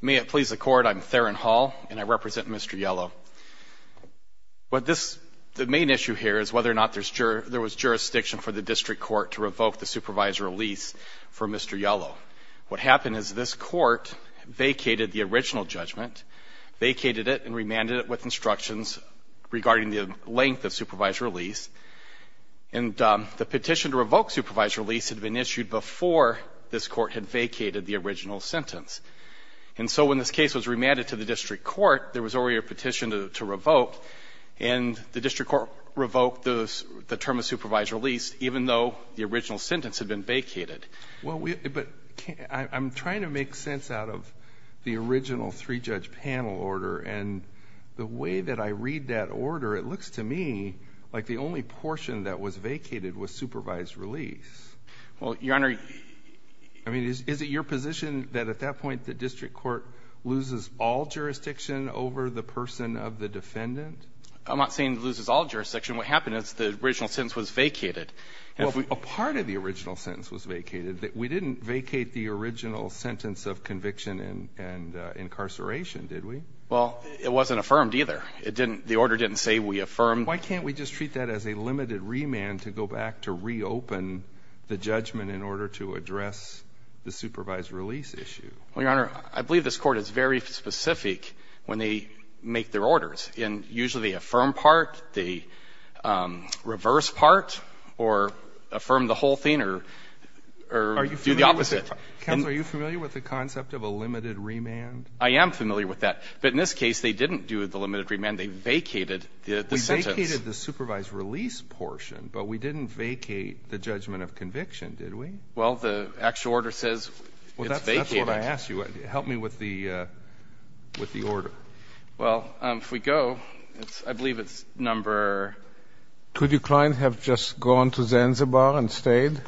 May it please the Court, I'm Theron Hall and I represent Mr. Yellow. The main issue here is whether or not there was jurisdiction for the District Court to revoke the supervisor release for Mr. Yellow. What happened is this Court vacated the original judgment, vacated it and remanded it with instructions regarding the length of supervisor release. And the petition to revoke supervisor release had been issued before this Court had vacated the original sentence. And so when this case was remanded to the District Court, there was already a petition to revoke. And the District Court revoked the term of supervisor release, even though the original sentence had been vacated. Well, but I'm trying to make sense out of the original three-judge panel order. And the way that I read that order, it looks to me like the only portion that was vacated was supervised release. Well, Your Honor. I mean, is it your position that at that point the District Court loses all jurisdiction over the person of the defendant? I'm not saying it loses all jurisdiction. What happened is the original sentence was vacated. Well, a part of the original sentence was vacated. We didn't vacate the original sentence of conviction and incarceration, did we? Well, it wasn't affirmed either. It didn't – the order didn't say we affirmed. Why can't we just treat that as a limited remand to go back to reopen the judgment in order to address the supervised release issue? Well, Your Honor, I believe this Court is very specific when they make their orders. And usually the affirm part, the reverse part, or affirm the whole thing, or do the opposite. Are you familiar with it? Counsel, are you familiar with the concept of a limited remand? I am familiar with that. But in this case, they didn't do the limited remand. They vacated the sentence. We vacated the supervised release portion, but we didn't vacate the judgment of conviction, did we? Well, the actual order says it's vacated. Well, that's what I asked you. Help me with the order. Well, if we go, I believe it's number – Could your client have just gone to Zanzibar and stayed?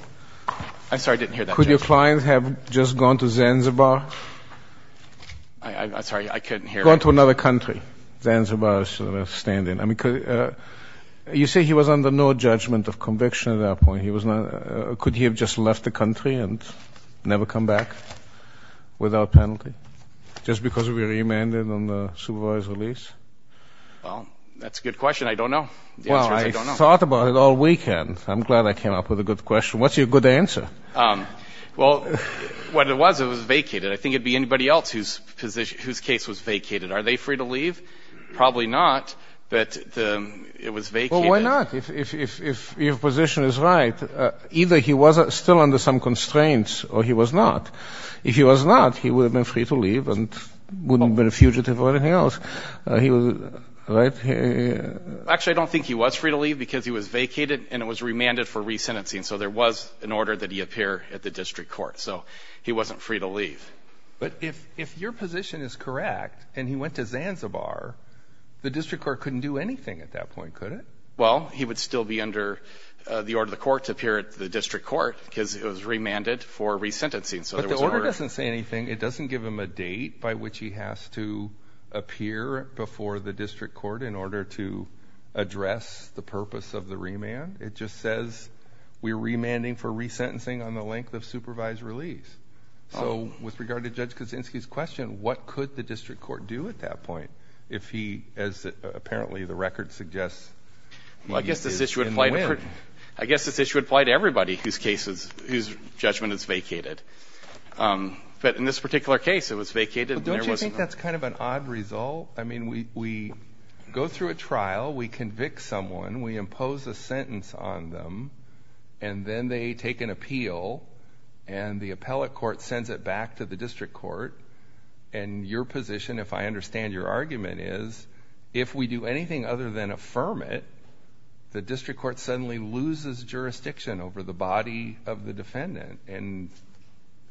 I'm sorry. I didn't hear that, Judge. Could your client have just gone to Zanzibar? I'm sorry. I couldn't hear it. Gone to another country. Zanzibar is sort of a stand-in. You say he was under no judgment of conviction at that point. Could he have just left the country and never come back without penalty just because we remanded on the supervised release? Well, that's a good question. I don't know. The answer is I don't know. Well, I thought about it all weekend. I'm glad I came up with a good question. What's your good answer? Well, what it was, it was vacated. I think it would be anybody else whose case was vacated. Are they free to leave? Probably not, but it was vacated. Well, why not? If your position is right, either he was still under some constraints or he was not. If he was not, he would have been free to leave and wouldn't have been a fugitive or anything else. He was – right? Actually, I don't think he was free to leave because he was vacated and it was remanded for resentencing. So there was an order that he appear at the district court. So he wasn't free to leave. But if your position is correct and he went to Zanzibar, the district court couldn't do anything at that point, could it? Well, he would still be under the order of the court to appear at the district court because it was remanded for resentencing. But the order doesn't say anything. It doesn't give him a date by which he has to appear before the district court in order to address the purpose of the remand. It just says we're remanding for resentencing on the length of supervised release. So with regard to Judge Kaczynski's question, what could the district court do at that point if he, as apparently the record suggests, is in the wind? I guess this issue would apply to everybody whose case is – whose judgment is vacated. But in this particular case, it was vacated. Don't you think that's kind of an odd result? I mean we go through a trial. We convict someone. We impose a sentence on them. And then they take an appeal, and the appellate court sends it back to the district court. And your position, if I understand your argument, is if we do anything other than affirm it, the district court suddenly loses jurisdiction over the body of the defendant. And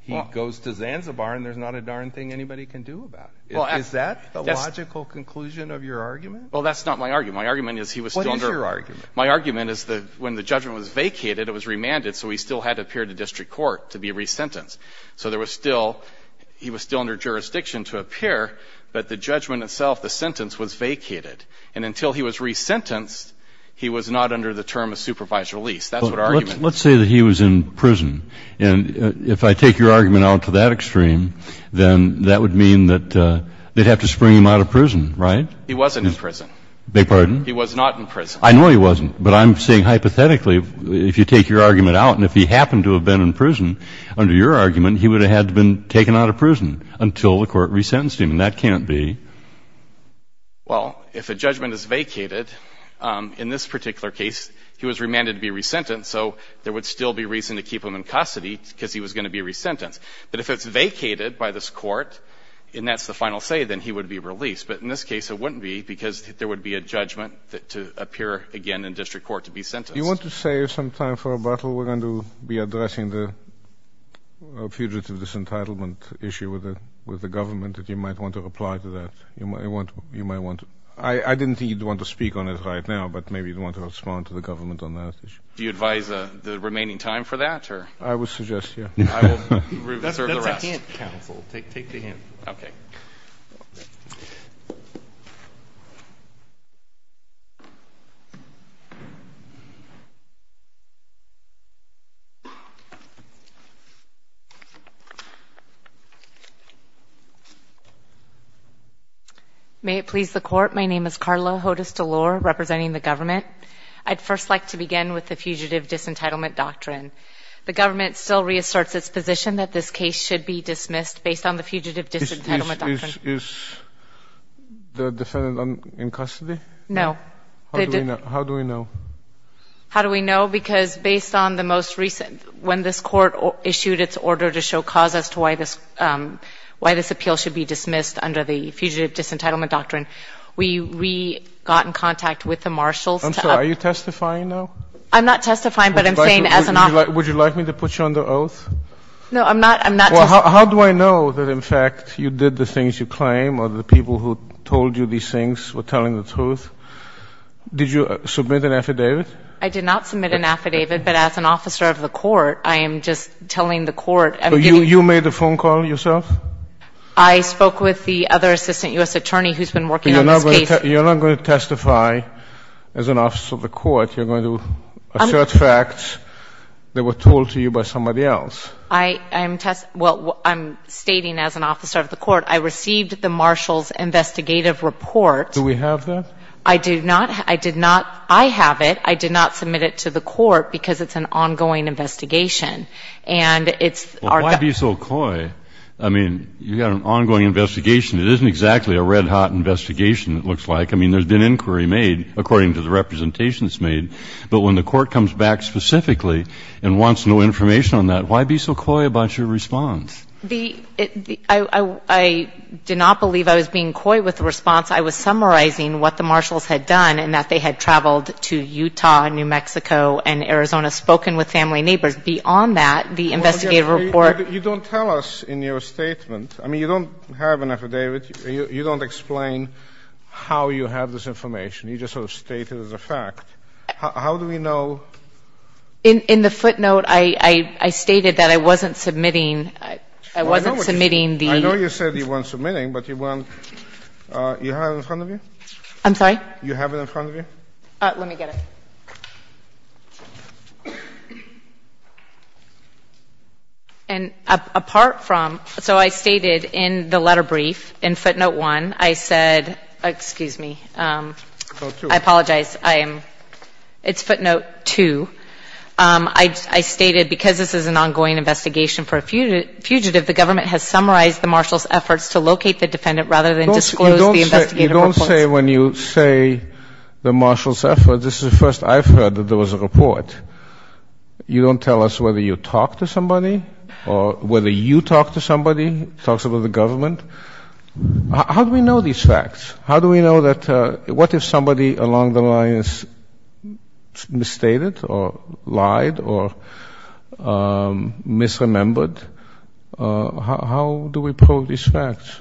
he goes to Zanzibar, and there's not a darn thing anybody can do about it. Is that the logical conclusion of your argument? Well, that's not my argument. My argument is he was still under – What is your argument? My argument is that when the judgment was vacated, it was remanded, so he still had to appear to district court to be resentenced. So there was still – he was still under jurisdiction to appear, but the judgment itself, the sentence, was vacated. And until he was resentenced, he was not under the term of supervised release. That's what our argument is. But let's say that he was in prison. And if I take your argument out to that extreme, then that would mean that they'd have to spring him out of prison, right? He wasn't in prison. Beg your pardon? He was not in prison. I know he wasn't. But I'm saying hypothetically, if you take your argument out, and if he happened to have been in prison, under your argument, he would have had to have been taken out of prison until the court resentenced him. And that can't be. Well, if a judgment is vacated, in this particular case, he was remanded to be resentenced, so there would still be reason to keep him in custody because he was going to be resentenced. But if it's vacated by this court, and that's the final say, then he would be released. But in this case, it wouldn't be because there would be a judgment to appear again in district court to be sentenced. Do you want to save some time for rebuttal? We're going to be addressing the fugitive disentitlement issue with the government. You might want to reply to that. You might want to. I didn't think you'd want to speak on it right now, but maybe you'd want to respond to the government on that issue. Do you advise the remaining time for that? I would suggest, yeah. That's a hint, counsel. Take the hint. Okay. Thank you. May it please the Court, my name is Carla Hodes-Delor, representing the government. I'd first like to begin with the fugitive disentitlement doctrine. The government still reasserts its position that this case should be dismissed based on the fugitive disentitlement doctrine. Is the defendant in custody? No. How do we know? How do we know? Because based on the most recent, when this Court issued its order to show cause as to why this appeal should be dismissed under the fugitive disentitlement doctrine, we got in contact with the marshals. I'm sorry. Are you testifying now? I'm not testifying, but I'm saying as an officer. Would you like me to put you under oath? No, I'm not testifying. Well, how do I know that, in fact, you did the things you claim or the people who told you these things were telling the truth? Did you submit an affidavit? I did not submit an affidavit, but as an officer of the Court, I am just telling the Court. You made the phone call yourself? I spoke with the other assistant U.S. attorney who's been working on this case. You're not going to testify as an officer of the Court. You're going to assert facts that were told to you by somebody else. I'm stating as an officer of the Court, I received the marshals' investigative report. Do we have that? I do not. I did not. I have it. I did not submit it to the Court because it's an ongoing investigation. And it's our ---- Well, why be so coy? I mean, you've got an ongoing investigation. It isn't exactly a red-hot investigation, it looks like. I mean, there's been inquiry made according to the representations made. But when the Court comes back specifically and wants no information on that, why be so coy about your response? I did not believe I was being coy with the response. I was summarizing what the marshals had done and that they had traveled to Utah and New Mexico and Arizona, spoken with family and neighbors. Beyond that, the investigative report ---- You don't tell us in your statement. I mean, you don't have an affidavit. You don't explain how you have this information. You just sort of state it as a fact. How do we know? In the footnote, I stated that I wasn't submitting the ---- Do you have it in front of you? I'm sorry? Do you have it in front of you? Let me get it. And apart from ---- So I stated in the letter brief, in footnote 1, I said ---- Excuse me. I apologize. I am ---- It's footnote 2. I stated because this is an ongoing investigation for a fugitive, the government has summarized the marshals' efforts to locate the defendant rather than disclose the investigative reports. You don't say when you say the marshals' efforts. This is the first I've heard that there was a report. You don't tell us whether you talked to somebody or whether you talked to somebody, talked to the government. How do we know these facts? How do we know that ---- What if somebody along the line is misstated or lied or misremembered? How do we prove these facts?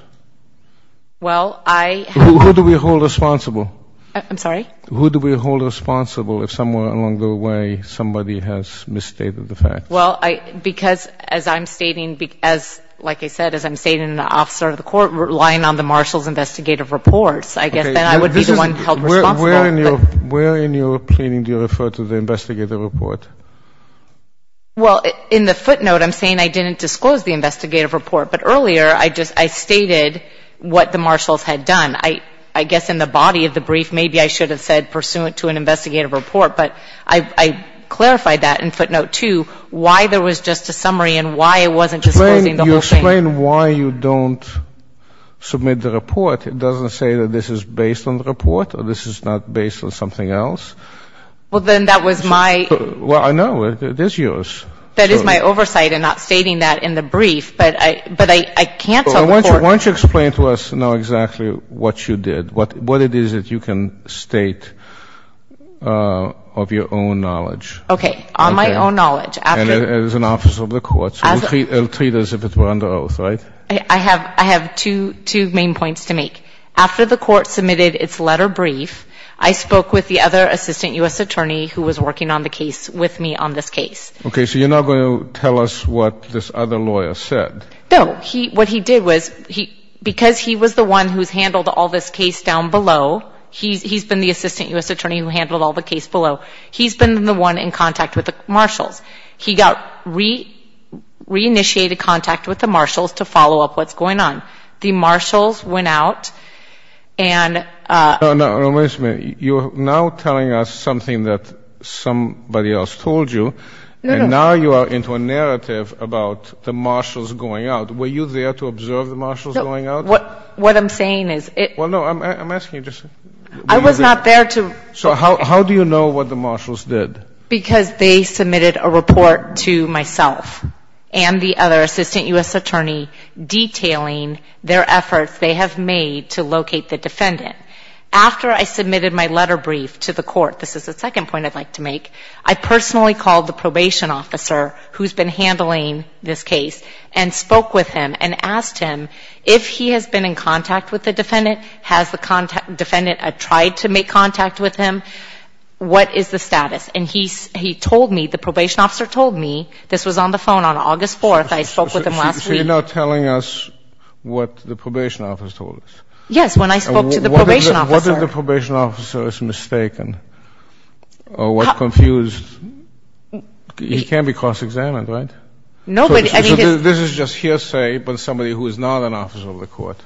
Well, I ---- Who do we hold responsible? I'm sorry? Who do we hold responsible if somewhere along the way somebody has misstated the facts? Well, I ---- Because as I'm stating, as like I said, as I'm stating, an officer of the court relying on the marshals' investigative reports, I guess then I would be the one held responsible. Okay. This is ---- Where in your ---- Where in your plaining do you refer to the investigative report? Well, in the footnote, I'm saying I didn't disclose the investigative report. But earlier, I just ---- I stated what the marshals had done. I guess in the body of the brief, maybe I should have said pursuant to an investigative report. But I clarified that in footnote two, why there was just a summary and why I wasn't disclosing the whole thing. Explain why you don't submit the report. It doesn't say that this is based on the report or this is not based on something else. Well, then that was my ---- Well, I know. It is yours. That is my oversight in not stating that in the brief. But I can't tell the court ---- Well, why don't you explain to us now exactly what you did, what it is that you can state of your own knowledge. Okay. On my own knowledge, after ---- And as an officer of the court, so we'll treat it as if it were under oath, right? I have two main points to make. After the court submitted its letter brief, I spoke with the other assistant U.S. attorney who was working on the case with me on this case. Okay. So you're not going to tell us what this other lawyer said? No. What he did was, because he was the one who's handled all this case down below, he's been the assistant U.S. attorney who handled all the case below. He's been the one in contact with the marshals. He got re-initiated contact with the marshals to follow up what's going on. The marshals went out and ---- No, no. Wait a minute. You're now telling us something that somebody else told you. No, no. Now you are into a narrative about the marshals going out. Were you there to observe the marshals going out? No. What I'm saying is it ---- Well, no, I'm asking you just ---- I was not there to ---- So how do you know what the marshals did? Because they submitted a report to myself and the other assistant U.S. attorney detailing their efforts they have made to locate the defendant. After I submitted my letter brief to the court, this is the second point I'd like to make, I personally called the probation officer who's been handling this case and spoke with him and asked him if he has been in contact with the defendant, has the defendant tried to make contact with him, what is the status? And he told me, the probation officer told me, this was on the phone on August 4th. I spoke with him last week. So you're now telling us what the probation officer told us. Yes, when I spoke to the probation officer. What if the probation officer is mistaken or was confused? He can be cross-examined, right? Nobody ---- So this is just hearsay from somebody who is not an officer of the court.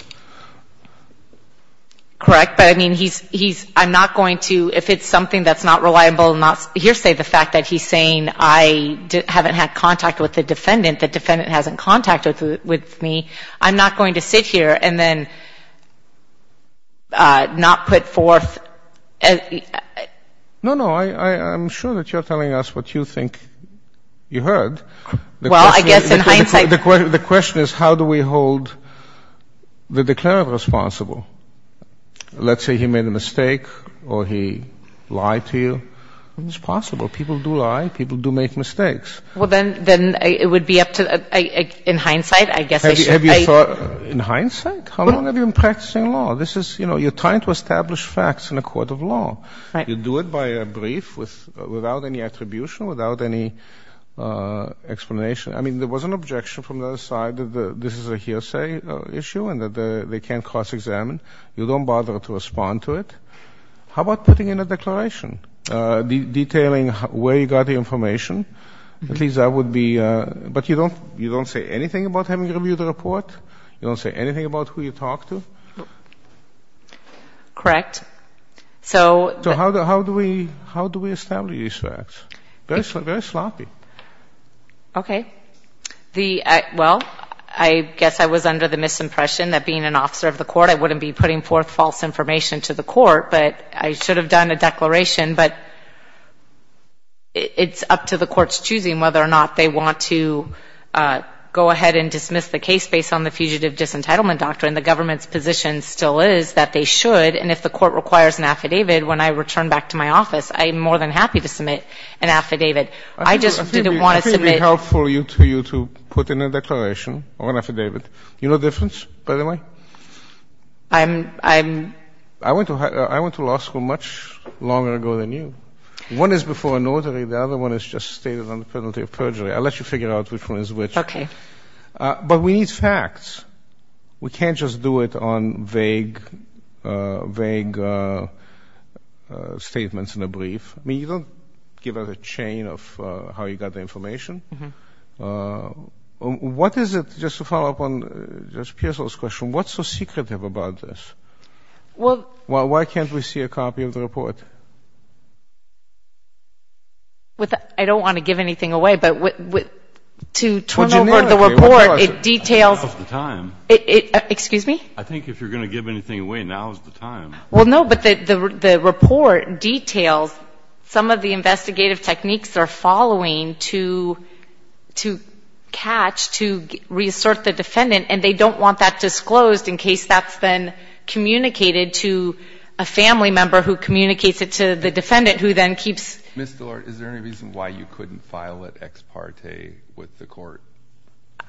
Correct. But, I mean, he's ---- I'm not going to, if it's something that's not reliable and not hearsay, the fact that he's saying I haven't had contact with the defendant, the defendant hasn't contacted with me, I'm not going to sit here and then not put forth ---- No, no. I'm sure that you're telling us what you think you heard. Well, I guess in hindsight ---- The question is how do we hold the declarant responsible? Let's say he made a mistake or he lied to you. It's possible. People do lie. People do make mistakes. Well, then it would be up to, in hindsight, I guess I should ---- In hindsight? Right. How long have you been practicing law? This is, you know, you're trying to establish facts in a court of law. Right. You do it by a brief without any attribution, without any explanation. I mean, there was an objection from the other side that this is a hearsay issue and that they can't cross-examine. You don't bother to respond to it. How about putting in a declaration detailing where you got the information? At least that would be ---- But you don't say anything about having reviewed the report? You don't say anything about who you talked to? Correct. So ---- So how do we establish these facts? Very sloppy. Okay. Well, I guess I was under the misimpression that being an officer of the court, I wouldn't be putting forth false information to the court, but I should have done a declaration. But it's up to the court's choosing whether or not they want to go ahead and dismiss the case based on the fugitive disentitlement doctrine. The government's position still is that they should. And if the court requires an affidavit, when I return back to my office, I'm more than happy to submit an affidavit. I just didn't want to submit ---- I think it would be helpful to you to put in a declaration or an affidavit. You know the difference, by the way? I'm ---- I went to law school much longer ago than you. One is before a notary. The other one is just stated on the penalty of perjury. I'll let you figure out which one is which. Okay. But we need facts. We can't just do it on vague statements in a brief. I mean, you don't give us a chain of how you got the information. What is it, just to follow up on Judge Pearsall's question, what's so secretive about this? Well ---- Why can't we see a copy of the report? I don't want to give anything away, but to turn over the report, it details ---- Well, generically, what do I say? Now is the time. Excuse me? I think if you're going to give anything away, now is the time. Well, no, but the report details some of the investigative techniques they're following to catch, to reassert the defendant. And they don't want that disclosed in case that's then communicated to a family member who communicates it to the defendant who then keeps ---- Ms. Dillard, is there any reason why you couldn't file it ex parte with the Court?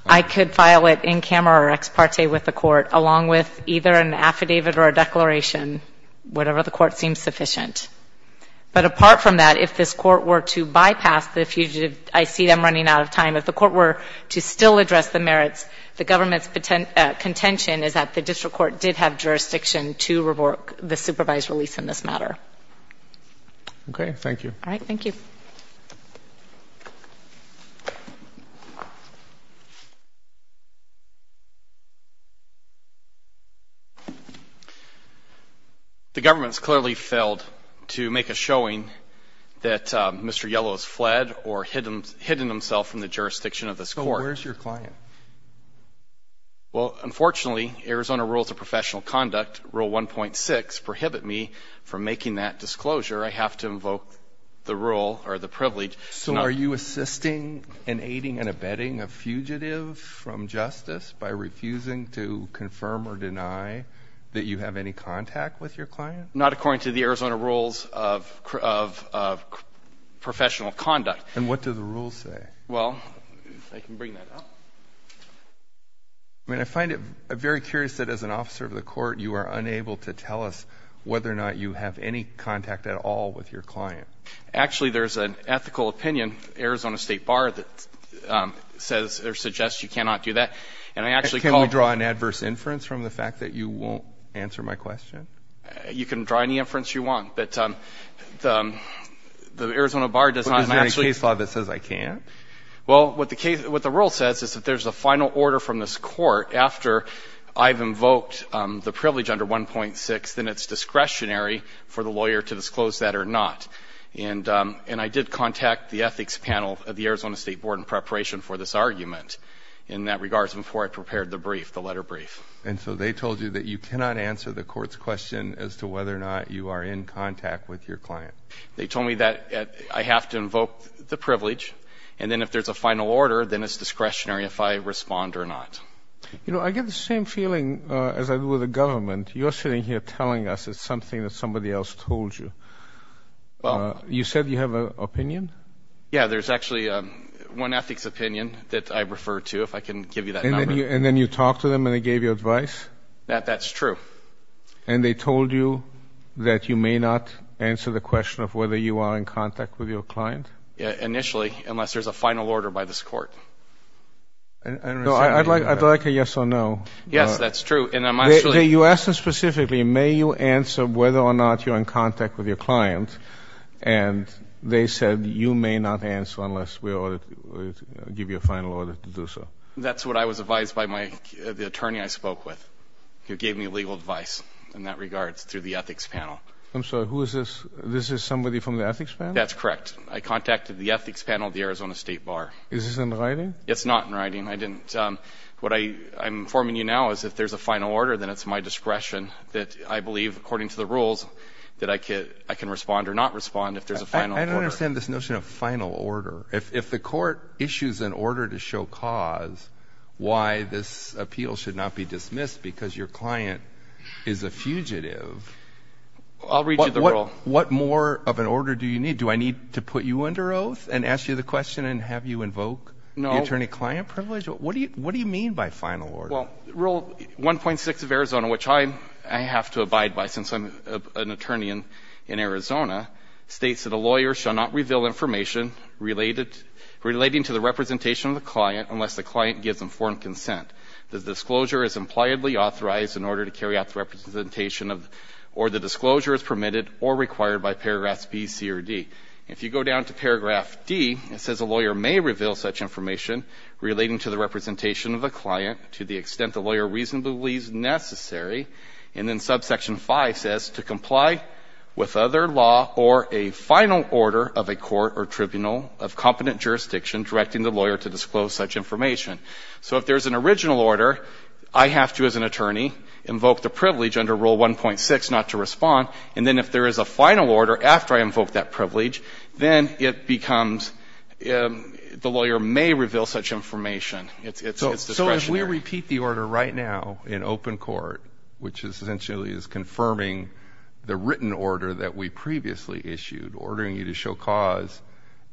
I could file it in camera or ex parte with the Court, along with either an affidavit or a declaration, whatever the Court seems sufficient. But apart from that, if this Court were to bypass the fugitive, I see them running out of time. If the Court were to still address the merits, the government's contention is that the district court did have jurisdiction to revoke the supervised release in this matter. Okay. All right. Thank you. The government has clearly failed to make a showing that Mr. Yellow has fled or hidden himself from the jurisdiction of this Court. So where's your client? Well, unfortunately, Arizona Rules of Professional Conduct, Rule 1.6, prohibit me from making that disclosure. I have to invoke the rule or the privilege. So are you assisting in aiding and abetting a fugitive from justice by refusing to confirm or deny that you have any contact with your client? Not according to the Arizona Rules of Professional Conduct. And what do the rules say? Well, if I can bring that up. I mean, I find it very curious that as an officer of the Court, you are unable to tell us whether or not you have any contact at all with your client. Actually, there's an ethical opinion, Arizona State Bar, that says or suggests you cannot do that. And I actually called you. Can we draw an adverse inference from the fact that you won't answer my question? You can draw any inference you want. But the Arizona Bar does not actually. But is there any case law that says I can't? Well, what the rule says is that there's a final order from this Court after I've invoked the privilege under 1.6, then it's discretionary for the lawyer to disclose that or not. And I did contact the ethics panel of the Arizona State Board in preparation for this argument in that regards before I prepared the brief, the letter brief. And so they told you that you cannot answer the Court's question as to whether or not you are in contact with your client? They told me that I have to invoke the privilege, and then if there's a final order, then it's discretionary if I respond or not. You know, I get the same feeling as I do with the government. You're sitting here telling us it's something that somebody else told you. You said you have an opinion? Yeah, there's actually one ethics opinion that I refer to, if I can give you that number. And then you talked to them and they gave you advice? That's true. And they told you that you may not answer the question of whether you are in contact with your client? Initially, unless there's a final order by this Court. I'd like a yes or no. Yes, that's true. You asked us specifically, may you answer whether or not you're in contact with your client, and they said you may not answer unless we give you a final order to do so. That's what I was advised by the attorney I spoke with, who gave me legal advice in that regards through the ethics panel. I'm sorry, who is this? This is somebody from the ethics panel? That's correct. I contacted the ethics panel of the Arizona State Bar. Is this in writing? It's not in writing. What I'm informing you now is if there's a final order, then it's my discretion that I believe, according to the rules, that I can respond or not respond if there's a final order. I don't understand this notion of final order. If the Court issues an order to show cause why this appeal should not be dismissed because your client is a fugitive. I'll read you the rule. What more of an order do you need? Do I need to put you under oath and ask you the question and have you invoke the attorney-client privilege? No. What do you mean by final order? Well, Rule 1.6 of Arizona, which I have to abide by since I'm an attorney in Arizona, states that a lawyer shall not reveal information relating to the representation of the client unless the client gives informed consent. The disclosure is impliedly authorized in order to carry out the representation of or the disclosure is permitted or required by paragraphs B, C, or D. If you go down to paragraph D, it says a lawyer may reveal such information relating to the representation of a client to the extent the lawyer reasonably believes necessary. And then subsection 5 says to comply with other law or a final order of a court or tribunal of competent jurisdiction directing the lawyer to disclose such information. So if there's an original order, I have to, as an attorney, invoke the privilege under Rule 1.6 not to respond. And then if there is a final order after I invoke that privilege, then it becomes the lawyer may reveal such information. It's discretionary. So if we repeat the order right now in open court, which essentially is confirming the written order that we previously issued, ordering you to show cause,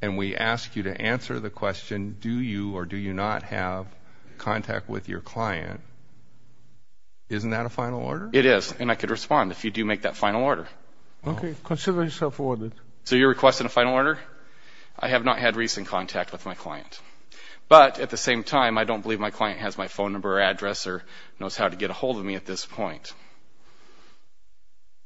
and we ask you to answer the question, do you or do you not have contact with your client, isn't that a final order? It is, and I could respond if you do make that final order. Okay. Consider yourself awarded. So you're requesting a final order? I have not had recent contact with my client. But at the same time, I don't believe my client has my phone number or address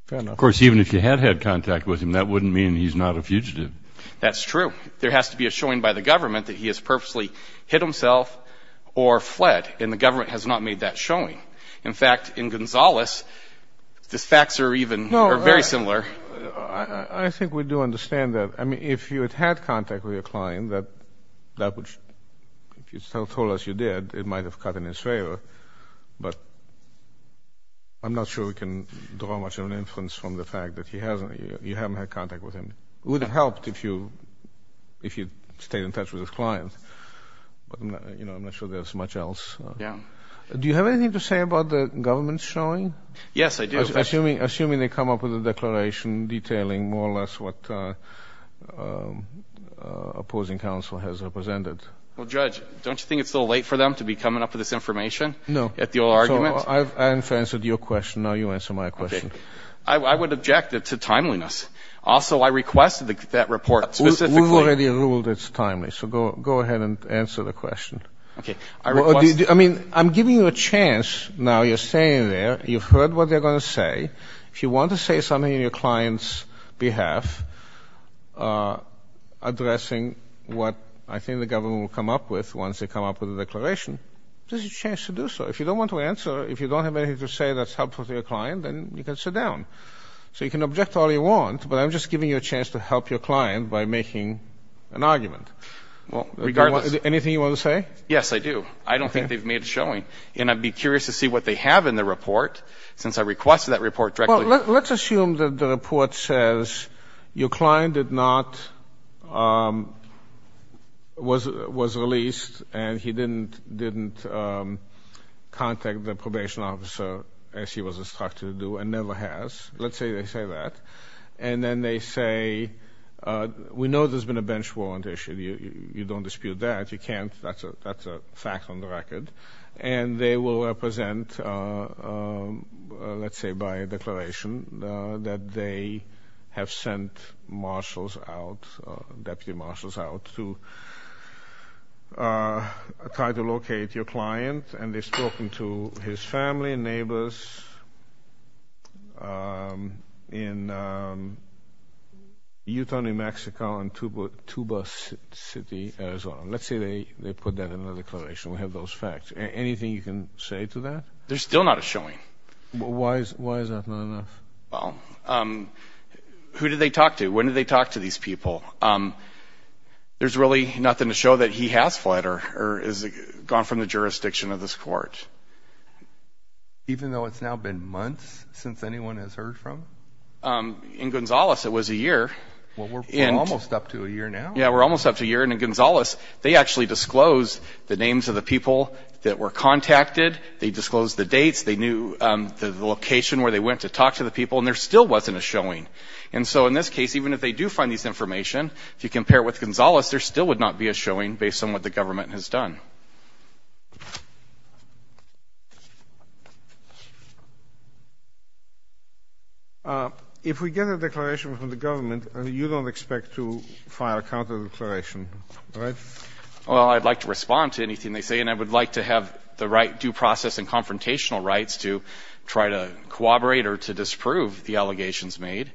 Fair enough. Of course, even if you had had contact with him, that wouldn't mean he's not a fugitive. That's true. There has to be a showing by the government that he has purposely hit himself or fled, and the government has not made that showing. In fact, in Gonzales, the facts are even very similar. I think we do understand that. I mean, if you had had contact with your client, that would, if you still told us you did, it might have cut in his favor. But I'm not sure we can draw much of an inference from the fact that you haven't had contact with him. It would have helped if you'd stayed in touch with his client, but I'm not sure there's much else. Yeah. Do you have anything to say about the government's showing? Yes, I do. Assuming they come up with a declaration detailing more or less what opposing counsel has represented. Well, Judge, don't you think it's a little late for them to be coming up with this information? No. At the old argument? So I've answered your question. Now you answer my question. Okay. I would object to timeliness. Also, I requested that report specifically. We've already ruled it's timely, so go ahead and answer the question. Okay. I mean, I'm giving you a chance now. You're staying there. You've heard what they're going to say. If you want to say something on your client's behalf addressing what I think the government will come up with once they come up with a declaration, this is your chance to do so. If you don't want to answer, if you don't have anything to say that's helpful to your client, then you can sit down. So you can object to all you want, but I'm just giving you a chance to help your client by making an argument. Regardless. Anything you want to say? Yes, I do. I don't think they've made a showing. And I'd be curious to see what they have in the report since I requested that report directly. Well, let's assume that the report says your client did not, was released, and he didn't contact the probation officer as he was instructed to do and never has. Let's say they say that. And then they say, we know there's been a bench warrant issue. You don't dispute that. You can't. That's a fact on the record. And they will represent, let's say, by a declaration that they have sent marshals out, deputy marshals out to try to locate your client. And they've spoken to his family and neighbors in Utah, New Mexico, and Tuba City, Arizona. Let's say they put that in a declaration. We have those facts. Anything you can say to that? There's still not a showing. Why is that not enough? Well, who did they talk to? When did they talk to these people? There's really nothing to show that he has fled or has gone from the jurisdiction of this court. Even though it's now been months since anyone has heard from? In Gonzales, it was a year. Well, we're almost up to a year now. Yeah, we're almost up to a year. And in Gonzales, they actually disclosed the names of the people that were contacted. They disclosed the dates. They knew the location where they went to talk to the people. And there still wasn't a showing. And so in this case, even if they do find this information, if you compare it with Gonzales, there still would not be a showing based on what the government has done. Thank you. If we get a declaration from the government, you don't expect to file a counter-declaration, right? Well, I'd like to respond to anything they say, and I would like to have the right due process and confrontational rights to try to corroborate or to disprove the allegations made.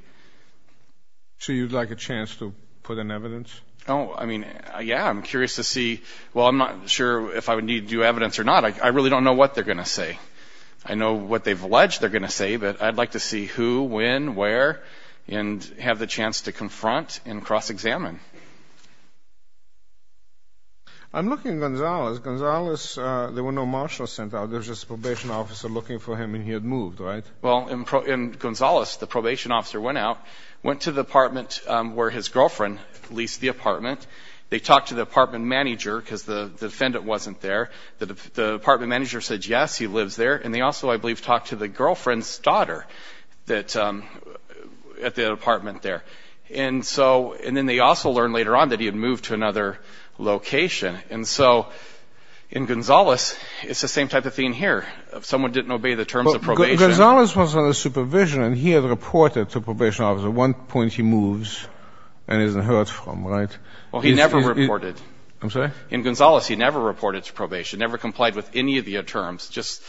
So you'd like a chance to put in evidence? Oh, I mean, yeah, I'm curious to see. Well, I'm not sure if I would need to do evidence or not. I really don't know what they're going to say. I know what they've alleged they're going to say, but I'd like to see who, when, where, and have the chance to confront and cross-examine. I'm looking at Gonzales. Gonzales, there were no marshals sent out. There was just a probation officer looking for him, and he had moved, right? Well, in Gonzales, the probation officer went out, went to the apartment where his girlfriend leased the apartment. They talked to the apartment manager because the defendant wasn't there. The apartment manager said, yes, he lives there, and they also, I believe, talked to the girlfriend's daughter at the apartment there. And then they also learned later on that he had moved to another location. And so in Gonzales, it's the same type of thing here. Someone didn't obey the terms of probation. Gonzales was under supervision, and he had reported to the probation officer. At one point, he moves and isn't heard from, right? Well, he never reported. I'm sorry? In Gonzales, he never reported to probation, never complied with any of the terms, just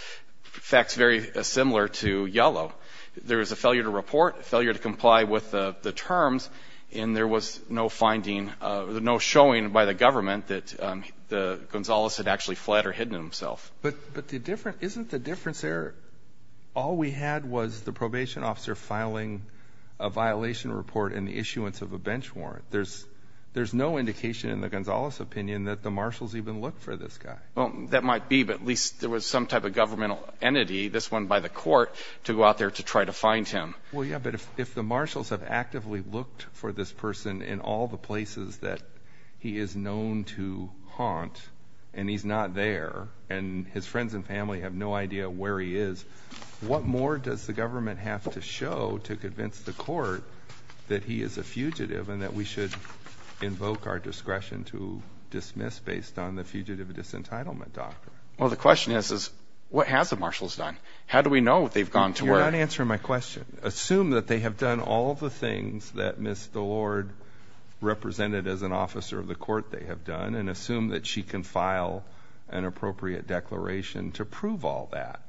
facts very similar to Yellow. There was a failure to report, failure to comply with the terms, and there was no finding, no showing by the government that Gonzales had actually fled or hidden himself. But isn't the difference there all we had was the probation officer filing a violation report and the issuance of a bench warrant? There's no indication in the Gonzales opinion that the marshals even looked for this guy. Well, that might be, but at least there was some type of governmental entity, this one by the court, to go out there to try to find him. Well, yeah, but if the marshals have actively looked for this person in all the places that he is known to haunt and he's not there and his friends and family have no idea where he is, what more does the government have to show to convince the court that he is a fugitive and that we should invoke our discretion to dismiss based on the fugitive disentitlement doctrine? Well, the question is, what have the marshals done? How do we know what they've gone to where? You're not answering my question. Assume that they have done all the things that Ms. Delord represented as an officer of the court they have done and assume that she can file an appropriate declaration to prove all that.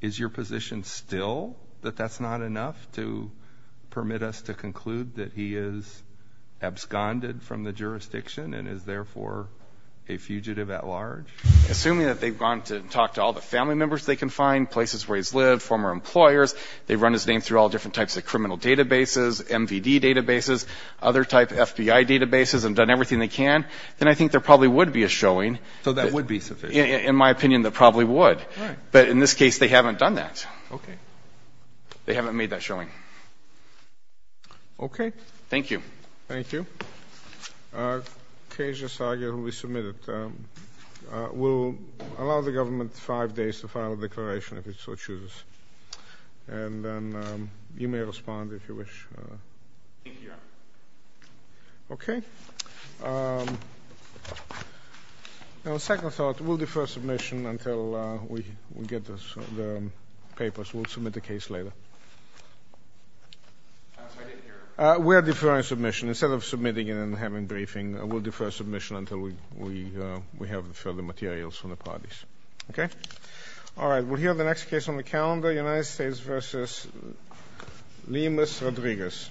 Is your position still that that's not enough to permit us to conclude that he is absconded from the jurisdiction and is therefore a fugitive at large? Assuming that they've gone to talk to all the family members they can find, places where he's lived, former employers, they've run his name through all different types of criminal databases, MVD databases, other type FBI databases and done everything they can, then I think there probably would be a showing. So that would be sufficient? In my opinion, there probably would. But in this case, they haven't done that. Okay. They haven't made that showing. Okay. Thank you. Thank you. Cajun Sager will be submitted. We'll allow the government five days to file a declaration if it so chooses. And you may respond if you wish. Thank you, Your Honor. Okay. On second thought, we'll defer submission until we get the papers. We'll submit the case later. I didn't hear. We are deferring submission. Instead of submitting it and having a briefing, we'll defer submission until we have further materials from the parties. Okay? All right. We'll hear the next case on the calendar, United States v. Limas Rodriguez.